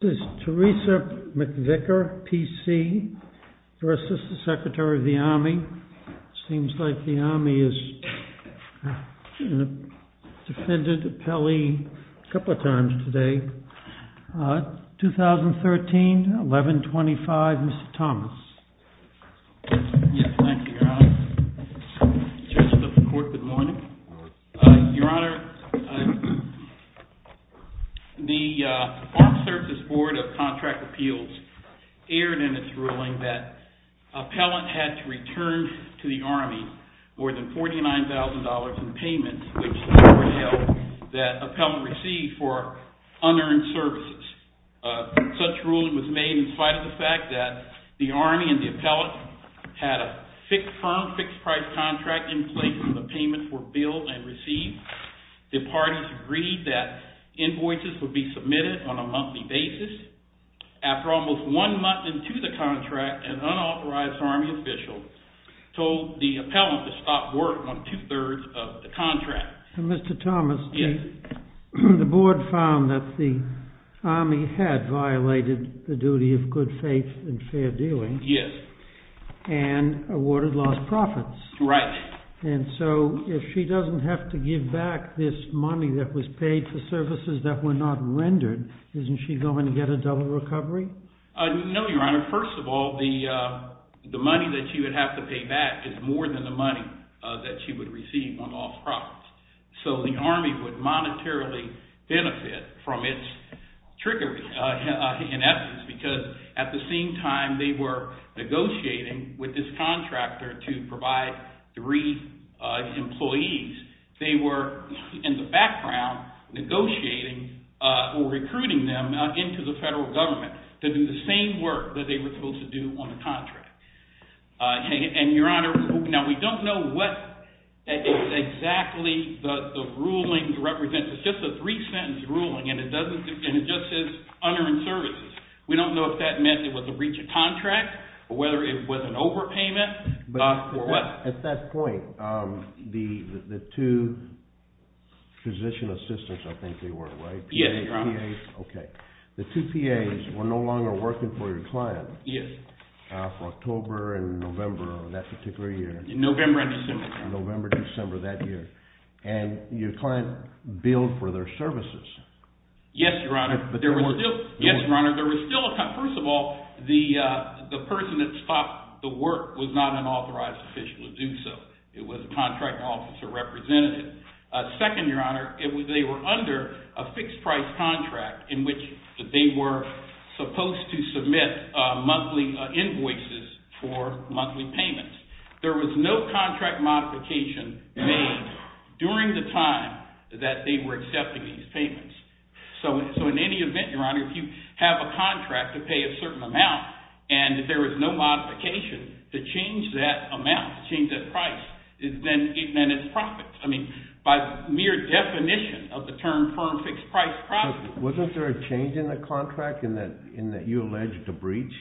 This is Teresa McVicker, PC, versus the Secretary of the Army. It seems like the Army has defended Pelly a couple of times today. 2013, 11-25, Mr. Thomas. Yes, thank you, Your Honor. Judge of the Court, good morning. Your Honor, the Armed Services Board of Contract Appeals aired in its ruling that appellant had to return to the Army more than $49,000 in payments, which the Court held that appellant received for unearned services. Such ruling was made in spite of the fact that the Army and the appellant had a firm fixed-price contract in place and the payments were billed and received. The parties agreed that invoices would be submitted on a monthly basis. After almost one month into the contract, an unauthorized Army official told the appellant to stop work on two-thirds of the contract. Mr. Thomas, the Board found that the Army had violated the duty of good faith and fair dealing. Yes. And awarded lost profits. Right. And so if she doesn't have to give back this money that was paid for services that were not rendered, isn't she going to get a double recovery? No, Your Honor. First of all, the money that she would have to pay back is more than the money that she would receive on lost profits. So the Army would monetarily benefit from its trickery, in essence, because at the same time they were negotiating with this contractor to provide three employees. They were, in the background, negotiating or recruiting them into the federal government to do the same work that they were supposed to do on the contract. And, Your Honor, now we don't know what exactly the ruling represents. It's just a three-sentence ruling, and it just says, honoring services. We don't know if that meant it was a breach of contract or whether it was an overpayment or what. At that point, the two physician assistants, I think they were, right? Yes, Your Honor. Okay. The two PAs were no longer working for your client. Yes. For October and November of that particular year. November and December. November and December of that year. And your client billed for their services. Yes, Your Honor. Yes, Your Honor. First of all, the person that stopped the work was not an authorized official to do so. It was a contracting officer representative. Second, Your Honor, they were under a fixed-price contract in which they were supposed to submit monthly invoices for monthly payments. There was no contract modification made during the time that they were accepting these payments. So, in any event, Your Honor, if you have a contract to pay a certain amount and there is no modification to change that amount, change that price, then it's profit. I mean, by mere definition of the term firm fixed-price profit. Wasn't there a change in the contract in that you alleged a breach?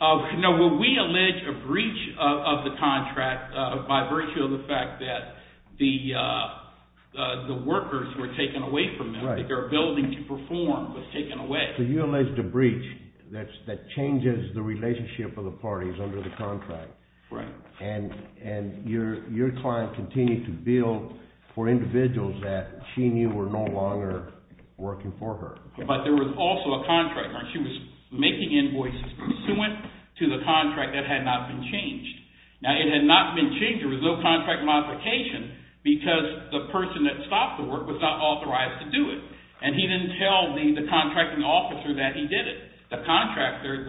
No. We alleged a breach of the contract by virtue of the fact that the workers were taken away from them. Right. Their ability to perform was taken away. So you alleged a breach that changes the relationship of the parties under the contract. Right. And your client continued to bill for individuals that she knew were no longer working for her. But there was also a contract where she was making invoices pursuant to the contract that had not been changed. Now, it had not been changed. There was no contract modification because the person that stopped the work was not authorized to do it. And he didn't tell the contracting officer that he did it. The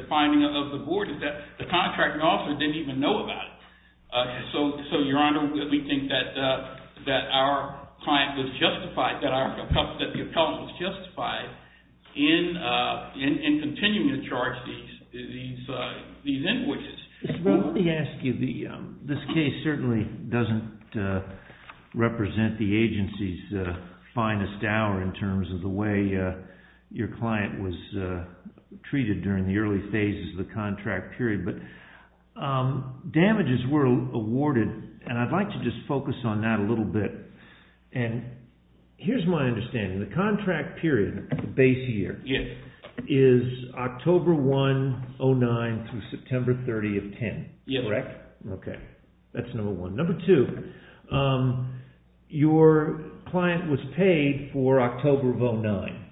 finding of the board is that the contracting officer didn't even know about it. So, Your Honor, we think that our client was justified, that the appellant was justified in continuing to charge these invoices. Mr. Brown, let me ask you. This case certainly doesn't represent the agency's finest hour in terms of the way your client was treated during the early phases of the contract period. But damages were awarded, and I'd like to just focus on that a little bit. And here's my understanding. The contract period, the base year, is October 1, 2009 through September 30 of 2010, correct? Yes. Okay. That's number one. Number two, your client was paid for October of 2009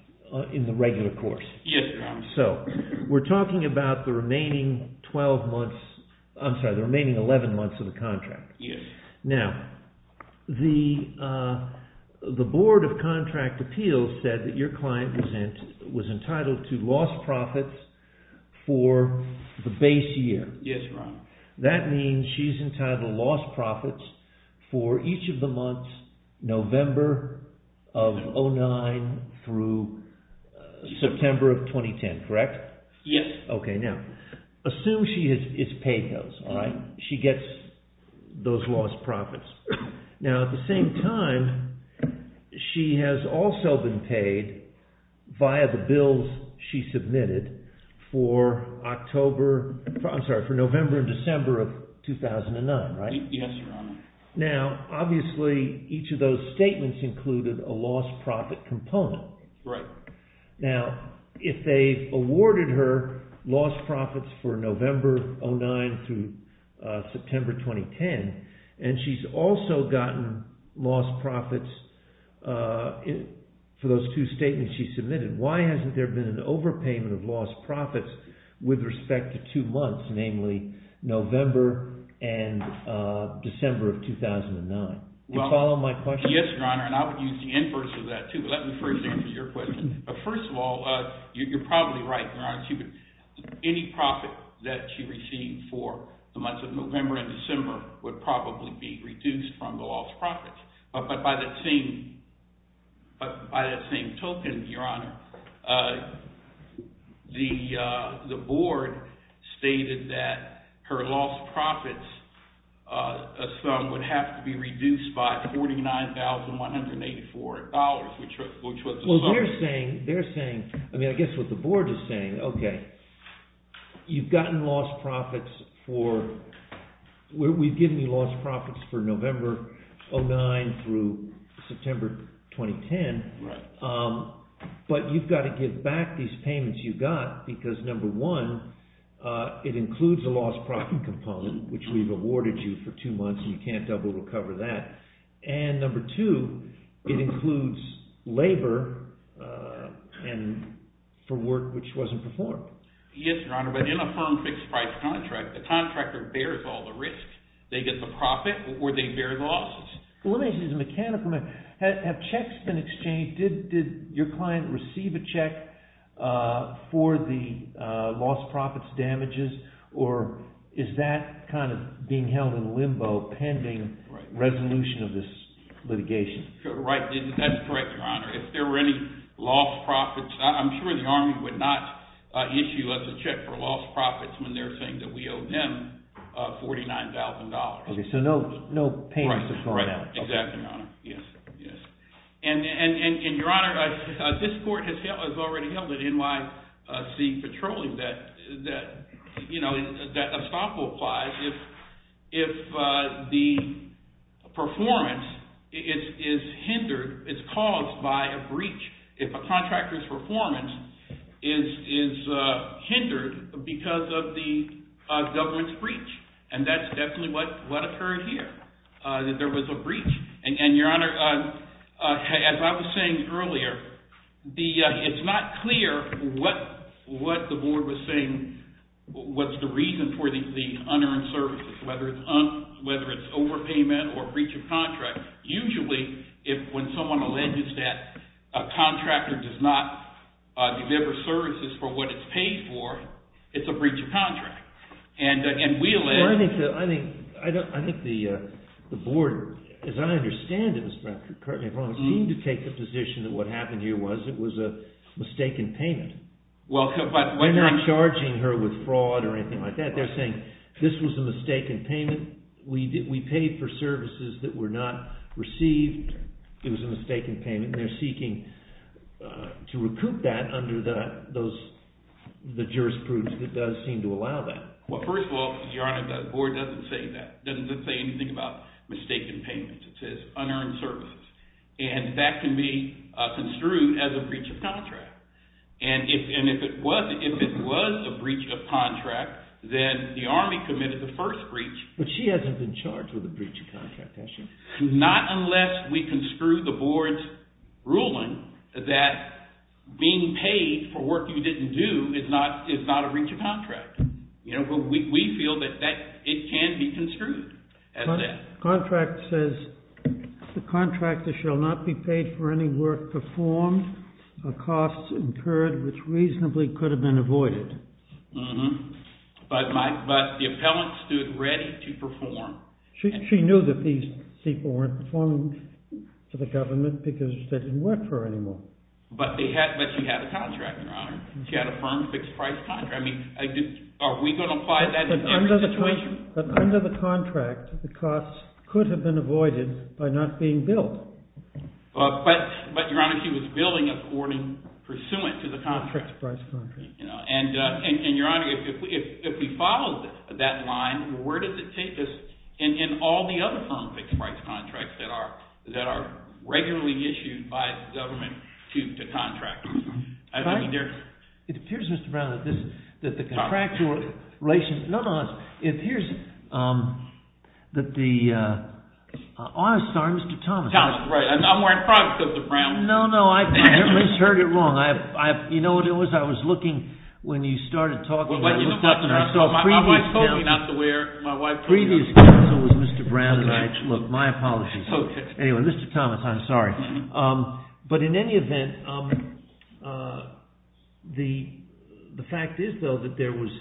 in the regular course. Yes, Your Honor. So, we're talking about the remaining 11 months of the contract. Yes. Now, the Board of Contract Appeals said that your client was entitled to lost profits for the base year. Yes, Your Honor. That means she's entitled to lost profits for each of the months November of 2009 through September of 2010, correct? Yes. Okay. Now, assume she is paid those, all right? She gets those lost profits. Now, at the same time, she has also been paid via the bills she submitted for October, I'm sorry, for November and December of 2009, right? Yes, Your Honor. Now, obviously, each of those statements included a lost profit component. Right. Now, if they've awarded her lost profits for November of 2009 through September 2010, and she's also gotten lost profits for those two statements she submitted, why hasn't there been an overpayment of lost profits with respect to two months, namely November and December of 2009? Do you follow my question? Yes, Your Honor, and I would use the inverse of that, too, but let me first answer your question. But first of all, you're probably right, Your Honor. Any profit that she received for the months of November and December would probably be reduced from the lost profits. But by that same token, Your Honor, the board stated that her lost profits, a sum, would have to be reduced by $49,184, which was a sum. They're saying – I mean, I guess what the board is saying, okay, you've gotten lost profits for – we've given you lost profits for November 2009 through September 2010. Right. But you've got to give back these payments you got because, number one, it includes a lost profit component, which we've awarded you for two months, and you can't double recover that. And number two, it includes labor for work which wasn't performed. Yes, Your Honor, but in a firm fixed-price contract, the contractor bears all the risks. They get the profit or they bear the losses. Let me ask you this as a mechanical matter. Have checks been exchanged? Did your client receive a check for the lost profits damages, or is that kind of being held in limbo pending resolution of this litigation? That's correct, Your Honor. If there were any lost profits – I'm sure the Army would not issue us a check for lost profits when they're saying that we owe them $49,000. Okay, so no payments have gone out. Right, exactly, Your Honor. Yes, yes. And, Your Honor, this court has already held at NYC Petroleum that a stop will apply if the performance is hindered – it's caused by a breach. If a contractor's performance is hindered because of the government's breach, and that's definitely what occurred here, that there was a breach. And, Your Honor, as I was saying earlier, it's not clear what the board was saying was the reason for the unearned services, whether it's overpayment or breach of contract. Usually, when someone alleges that a contractor does not deliver services for what it's paid for, it's a breach of contract. And we allege – Well, I think the board, as I understand it, Mr. Cartman, seemed to take the position that what happened here was it was a mistaken payment. They're not charging her with fraud or anything like that. They're saying this was a mistaken payment. We paid for services that were not received. It was a mistaken payment. They're seeking to recoup that under the jurisprudence that does seem to allow that. Well, first of all, Your Honor, the board doesn't say that. It doesn't say anything about mistaken payments. It says unearned services. And that can be construed as a breach of contract. And if it was a breach of contract, then the Army committed the first breach. But she hasn't been charged with a breach of contract, has she? Not unless we construe the board's ruling that being paid for work you didn't do is not a breach of contract. We feel that it can be construed as that. Contract says the contractor shall not be paid for any work performed or costs incurred which reasonably could have been avoided. But the appellant stood ready to perform. She knew that these people weren't performing for the government because they didn't work for her anymore. But she had a contract, Your Honor. She had a firm fixed-price contract. I mean, are we going to apply that in every situation? But under the contract, the costs could have been avoided by not being billed. But, Your Honor, she was billing according pursuant to the contract. And, Your Honor, if we follow that line, where does it take us in all the other firm fixed-price contracts that are regularly issued by the government to contractors? It appears, Mr. Brown, that the contractual relationship – no, no, it appears that the – I'm sorry, Mr. Thomas. I'm wearing products, Mr. Brown. No, no, I heard it wrong. You know what it was? I was looking when you started talking about this stuff. My wife told me not to wear – my wife told me not to wear – The previous counsel was Mr. Brown, and I – look, my apologies. Okay. Anyway, Mr. Thomas, I'm sorry. But in any event, the fact is, though, that there was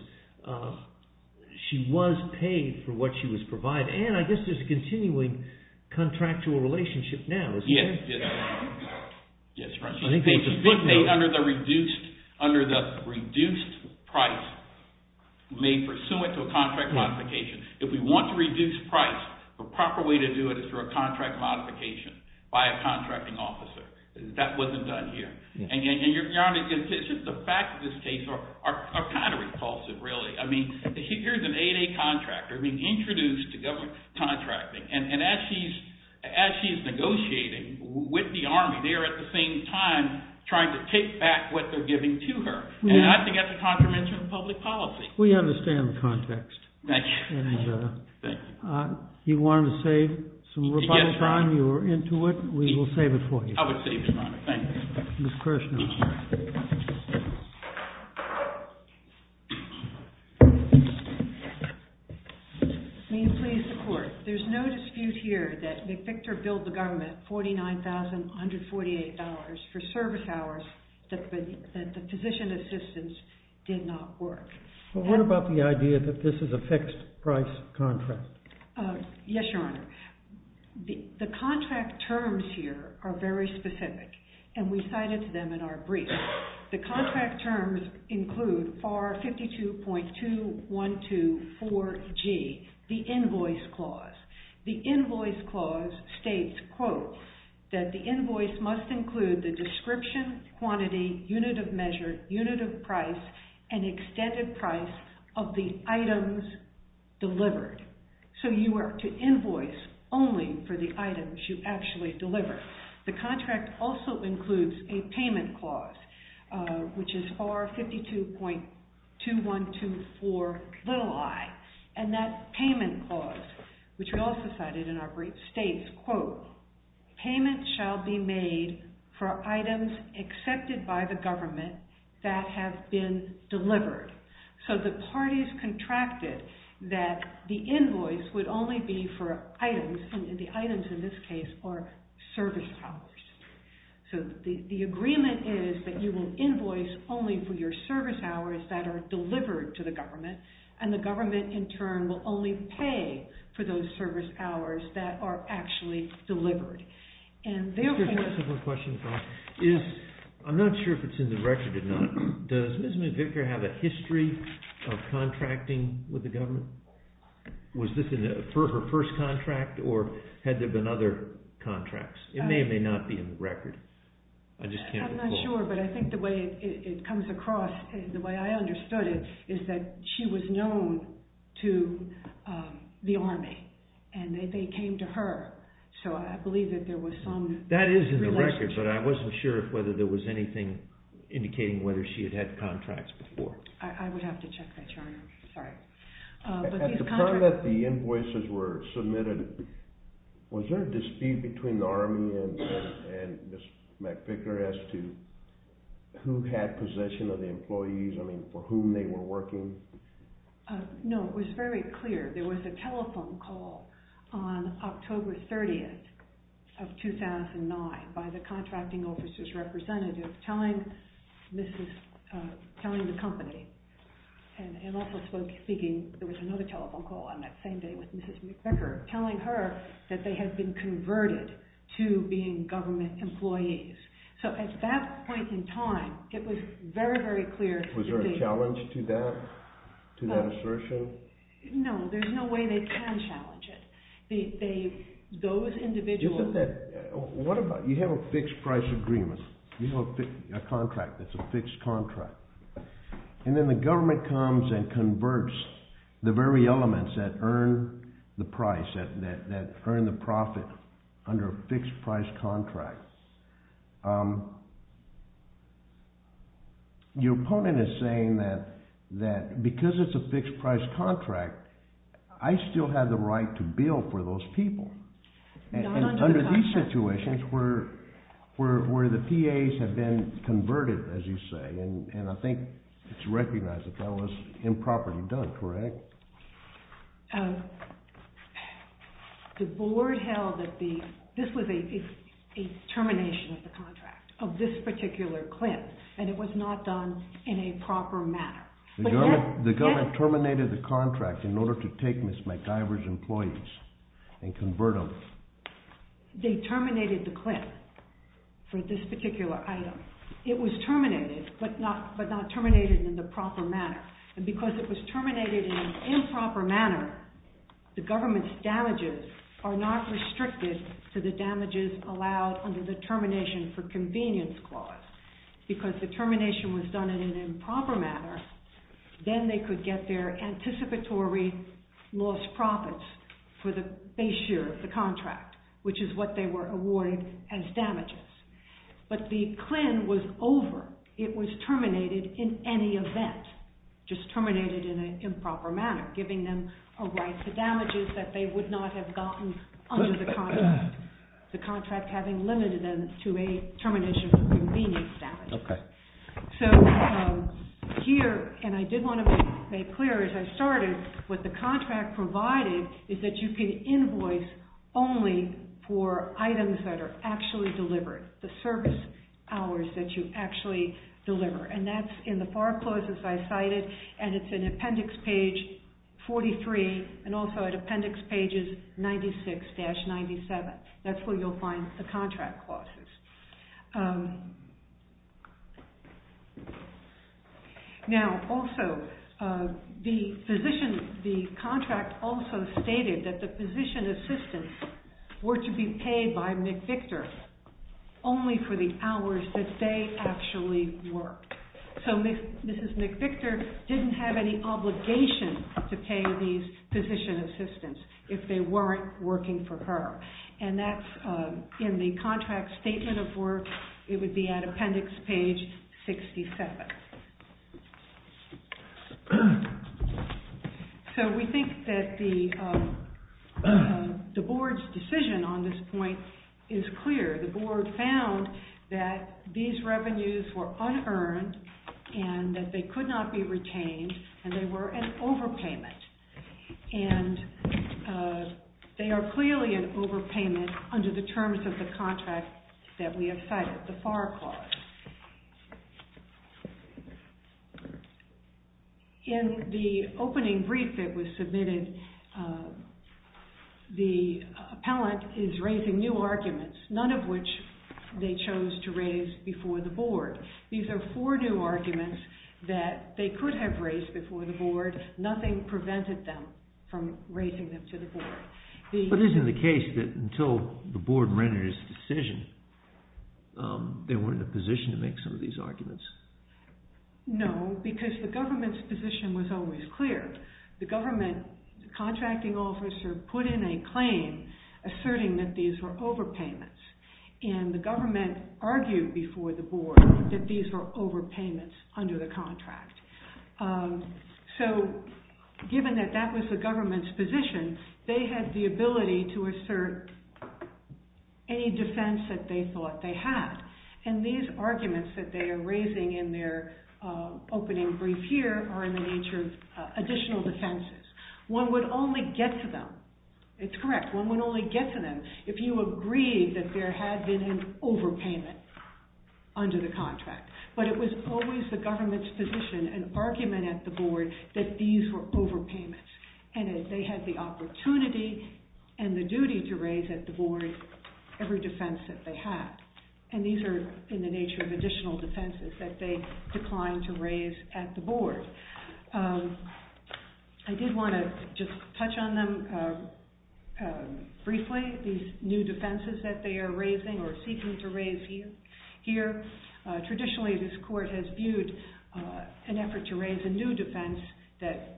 – she was paid for what she was provided. And I guess there's a continuing contractual relationship now, isn't there? Yes, Your Honor. Yes, Your Honor. I think that's a good note. Under the reduced price made pursuant to a contract modification. If we want to reduce price, the proper way to do it is through a contract modification by a contracting officer. That wasn't done here. And Your Honor, the fact of this case are kind of repulsive, really. I mean, here's an 8A contractor being introduced to government contracting, and as she's negotiating with the Army, they're, at the same time, trying to take back what they're giving to her. And I think that's a contravention of public policy. We understand the context. Thank you. And you wanted to save some rebuttal time? Yes, Your Honor. You were into it. We will save it for you. I would save it, Your Honor. Thank you. Ms. Kershner. May it please the Court. There's no dispute here that McVictor billed the government $49,148 for service hours that the physician assistance did not work. What about the idea that this is a fixed-price contract? Yes, Your Honor. The contract terms here are very specific, and we cited them in our brief. The contract terms include FAR 52.2124G, the invoice clause. The invoice clause states, quote, that the invoice must include the description, quantity, unit of measure, unit of price, and extended price of the items delivered. So you are to invoice only for the items you actually deliver. The contract also includes a payment clause, which is FAR 52.2124i. And that payment clause, which we also cited in our brief, states, quote, payments shall be made for items accepted by the government that have been delivered. So the parties contracted that the invoice would only be for items, and the items in this case are service hours. So the agreement is that you will invoice only for your service hours that are delivered to the government, and the government in turn will only pay for those service hours that are actually delivered. I'm not sure if it's in the record or not. Does Ms. McVicker have a history of contracting with the government? Was this for her first contract, or had there been other contracts? It may or may not be in the record. I just can't recall. I'm not sure, but I think the way it comes across, the way I understood it, is that she was known to the Army, and they came to her, so I believe that there was some relationship. That is in the record, but I wasn't sure whether there was anything indicating whether she had had contracts before. I would have to check that, Your Honor. Sorry. At the time that the invoices were submitted, was there a dispute between the Army and Ms. McVicker as to who had possession of the employees, I mean, for whom they were working? No, it was very clear. There was a telephone call on October 30th of 2009 by the contracting officer's representative telling the company, and also speaking, there was another telephone call on that same day with Ms. McVicker, telling her that they had been converted to being government employees. So at that point in time, it was very, very clear. Was there a challenge to that assertion? No, there's no way they can challenge it. You have a fixed price agreement, a contract that's a fixed contract, and then the government comes and converts the very elements that earn the profit under a fixed price contract. Your opponent is saying that because it's a fixed price contract, I still have the right to bill for those people. Not under the contract. Under these situations where the PAs have been converted, as you say, and I think it's recognized that that was improperly done, correct? The board held that this was a termination of the contract, of this particular CLIN, and it was not done in a proper manner. The government terminated the contract in order to take Ms. McIver's employees and convert them. They terminated the CLIN for this particular item. It was terminated, but not terminated in the proper manner. And because it was terminated in an improper manner, the government's damages are not restricted to the damages allowed under the termination for convenience clause. Because the termination was done in an improper manner, then they could get their anticipatory lost profits for the base year of the contract, which is what they were awarded as damages. But the CLIN was over. It was terminated in any event, just terminated in an improper manner, giving them a right to damages that they would not have gotten under the contract, the contract having limited them to a termination for convenience damage. So here, and I did want to make clear as I started, what the contract provided is that you can invoice only for items that are actually delivered, the service hours that you actually deliver. And that's in the FAR clauses I cited, and it's in Appendix Page 43 and also at Appendix Pages 96-97. That's where you'll find the contract clauses. Now, also, the contract also stated that the position assistants were to be paid by McVictor only for the hours that they actually worked. So Mrs. McVictor didn't have any obligation to pay these position assistants if they weren't working for her. And that's in the contract statement of work. It would be at Appendix Page 67. So we think that the board's decision on this point is clear. The board found that these revenues were unearned and that they could not be retained and they were an overpayment. And they are clearly an overpayment under the terms of the contract that we have cited, the FAR clause. In the opening brief that was submitted, the appellant is raising new arguments, none of which they chose to raise before the board. These are four new arguments that they could have raised before the board. Nothing prevented them from raising them to the board. But isn't the case that until the board rendered its decision, they weren't in a position to make some of these arguments? No, because the government's position was always clear. The government contracting officer put in a claim asserting that these were overpayments. And the government argued before the board that these were overpayments under the contract. So given that that was the government's position, they had the ability to assert any defense that they thought they had. And these arguments that they are raising in their opening brief here are in the nature of additional defenses. One would only get to them. It's correct. One would only get to them. If you agree that there had been an overpayment under the contract. But it was always the government's position, an argument at the board, that these were overpayments. And they had the opportunity and the duty to raise at the board every defense that they had. And these are in the nature of additional defenses that they declined to raise at the board. I did want to just touch on them briefly. These new defenses that they are raising or seeking to raise here. Traditionally, this court has viewed an effort to raise a new defense that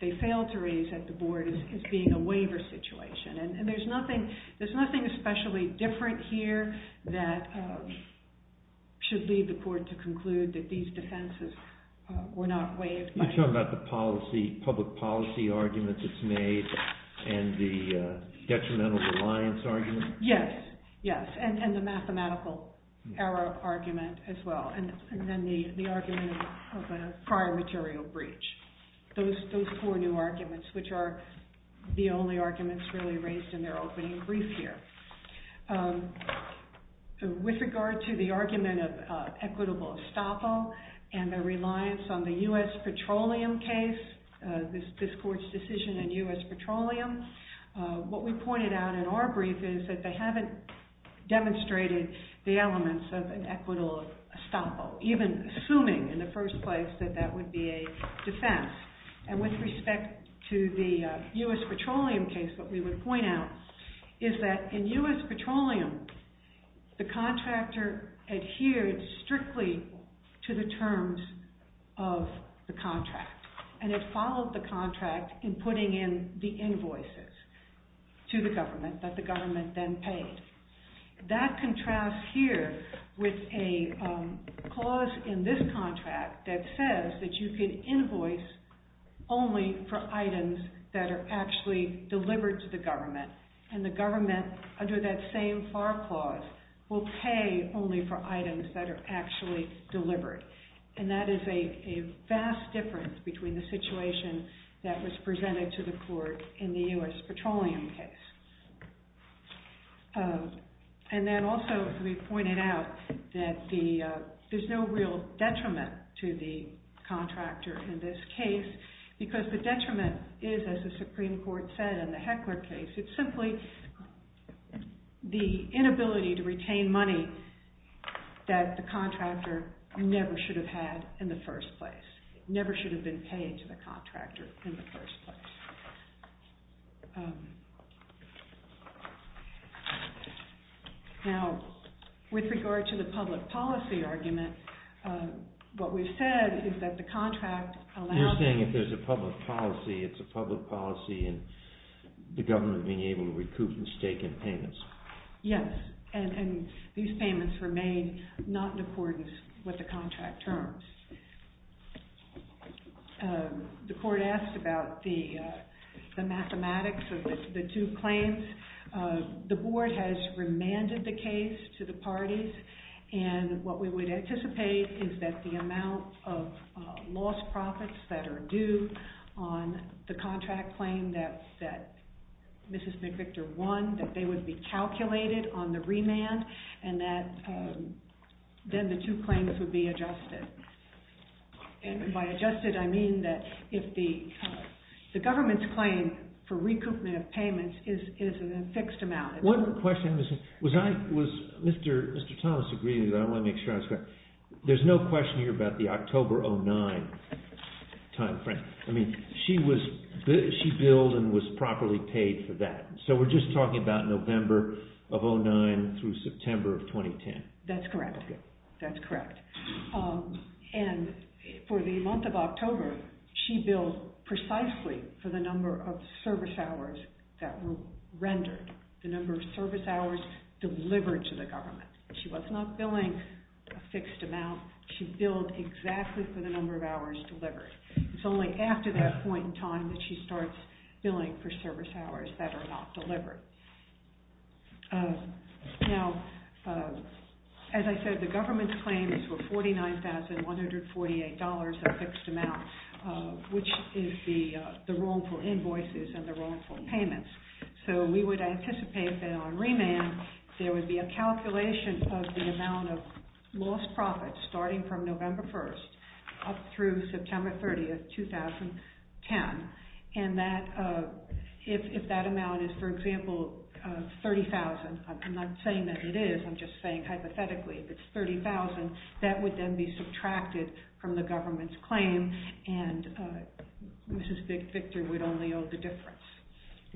they failed to raise at the board as being a waiver situation. And there's nothing especially different here that should lead the court to conclude that these defenses were not waived. You're talking about the public policy arguments it's made and the detrimental reliance argument? Yes. And the mathematical error argument as well. And then the argument of a prior material breach. Those four new arguments, which are the only arguments really raised in their opening brief here. With regard to the argument of equitable estoppel and the reliance on the U.S. petroleum case, this court's decision in U.S. petroleum, what we pointed out in our brief is that they haven't demonstrated the elements of an equitable estoppel. Even assuming in the first place that that would be a defense. And with respect to the U.S. petroleum case, what we would point out is that in U.S. petroleum, the contractor adhered strictly to the terms of the contract. And it followed the contract in putting in the invoices to the government that the government then paid. That contrasts here with a clause in this contract that says that you can invoice only for items that are actually delivered to the government. And the government, under that same FAR clause, will pay only for items that are actually delivered. And that is a vast difference between the situation that was presented to the court in the U.S. petroleum case. And then also, we pointed out that there's no real detriment to the contractor in this case. Because the detriment is, as the Supreme Court said in the Heckler case, it's simply the inability to retain money that the contractor never should have had in the first place. Never should have been paid to the contractor in the first place. Now, with regard to the public policy argument, what we've said is that the contract allows... You're saying if there's a public policy, it's a public policy and the government being able to recoup the stake in payments. Yes. And these payments were made not in accordance with the contract terms. The court asked about the mathematics of the two claims. The board has remanded the case to the parties. And what we would anticipate is that the amount of lost profits that are due on the contract claim that Mrs. McVictor won, that they would be calculated on the remand. And then the two claims would be adjusted. And by adjusted, I mean that if the government's claim for recoupment of payments is a fixed amount. One question, was Mr. Thomas agreeing that I want to make sure I was correct? There's no question here about the October 2009 timeframe. I mean, she billed and was properly paid for that. So we're just talking about November of 2009 through September of 2010. That's correct. And for the month of October, she billed precisely for the number of service hours that were rendered, the number of service hours delivered to the government. She was not billing a fixed amount. She billed exactly for the number of hours delivered. It's only after that point in time that she starts billing for service hours that are not delivered. Now, as I said, the government's claim is for $49,148 a fixed amount, which is the wrongful invoices and the wrongful payments. So we would anticipate that on remand, there would be a calculation of the amount of lost profits starting from November 1st up through September 30th, 2010. And if that amount is, for example, $30,000, I'm not saying that it is. I'm just saying hypothetically, if it's $30,000, that would then be subtracted from the government's claim. And Mrs. Victor would only owe the difference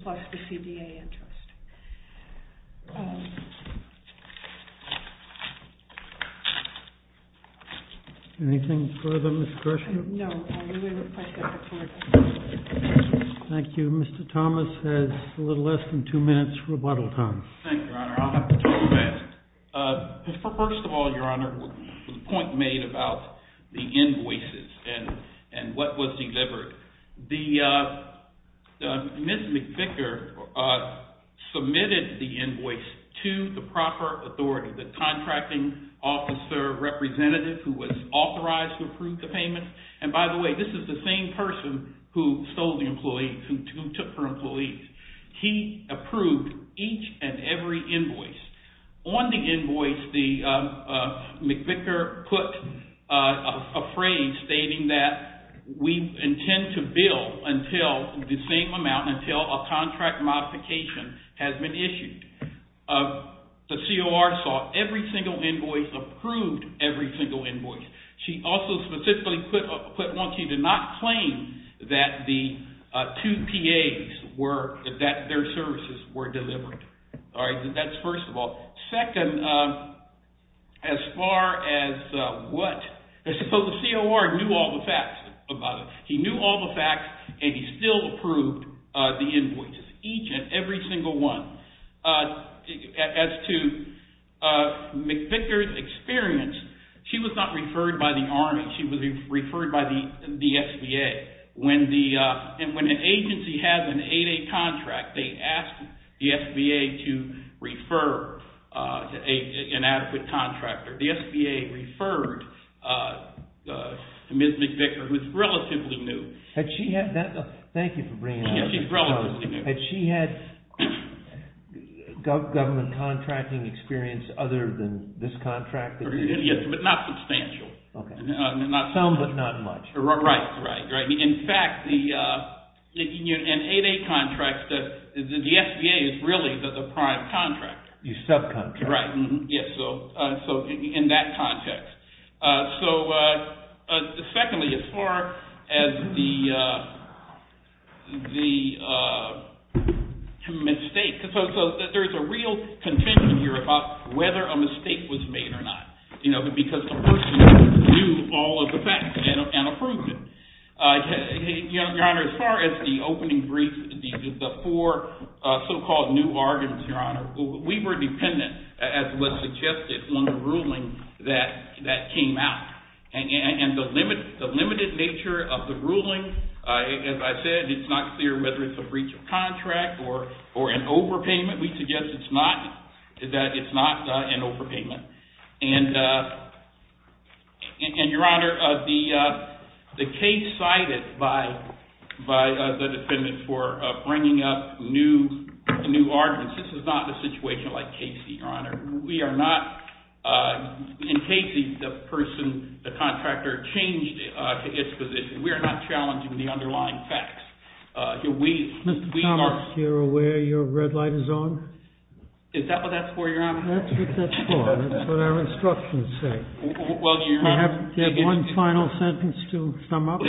plus the CBA interest. Anything further, Ms. Gershwin? No. Thank you. Mr. Thomas has a little less than two minutes rebuttal time. Thank you, Your Honor. I'll have to talk to that. First of all, Your Honor, the point made about the invoices and what was delivered. Ms. McVicker submitted the invoice to the proper authority, the contracting officer representative who was authorized to approve the payment. And by the way, this is the same person who stole the employees, who took her employees. He approved each and every invoice. On the invoice, McVicker put a phrase stating that we intend to bill until the same amount, until a contract modification has been issued. The COR saw every single invoice, approved every single invoice. She also specifically put once she did not claim that the two PAs, that their services were delivered. That's first of all. Second, as far as what? The COR knew all the facts about it. He knew all the facts and he still approved the invoices, each and every single one. As to McVicker's experience, she was not referred by the Army. She was referred by the SBA. When an agency has an 8A contract, they ask the SBA to refer an adequate contractor. The SBA referred Ms. McVicker, who is relatively new. Thank you for bringing that up. Yes, she's relatively new. Had she had government contracting experience other than this contract? Yes, but not substantial. Some, but not much. Right. In fact, in 8A contracts, the SBA is really the prime contractor. The subcontractor. Right. In that context. Secondly, as far as the mistake. There's a real contention here about whether a mistake was made or not. Because the person knew all of the facts and approved it. Your Honor, as far as the opening brief, the four so-called new arguments, Your Honor, we were dependent, as was suggested in the ruling that came out. And the limited nature of the ruling, as I said, it's not clear whether it's a breach of contract or an overpayment. We suggest that it's not an overpayment. And, Your Honor, the case cited by the defendant for bringing up new arguments, this is not a situation like Casey, Your Honor. We are not, in Casey, the person, the contractor changed its position. We are not challenging the underlying facts. Mr. Thomas, you're aware your red light is on? That's what that's for. That's what our instructions say. Well, Your Honor. Do you have one final sentence to sum up?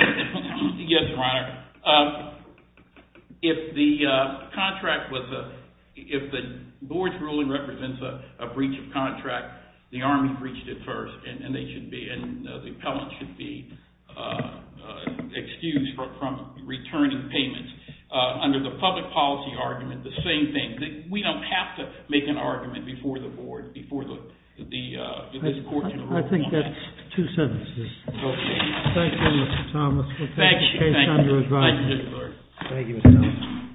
Yes, Your Honor. If the contract was a, if the board's ruling represents a breach of contract, the Army breached it first. And they should be, and the appellant should be excused from returning payments. Under the public policy argument, the same thing. We don't have to make an argument before the board, before the court. I think that's two sentences. Thank you, Mr. Thomas. We'll take the case under advisement. Thank you, Mr. Clark. Thank you, Mr. Thomas.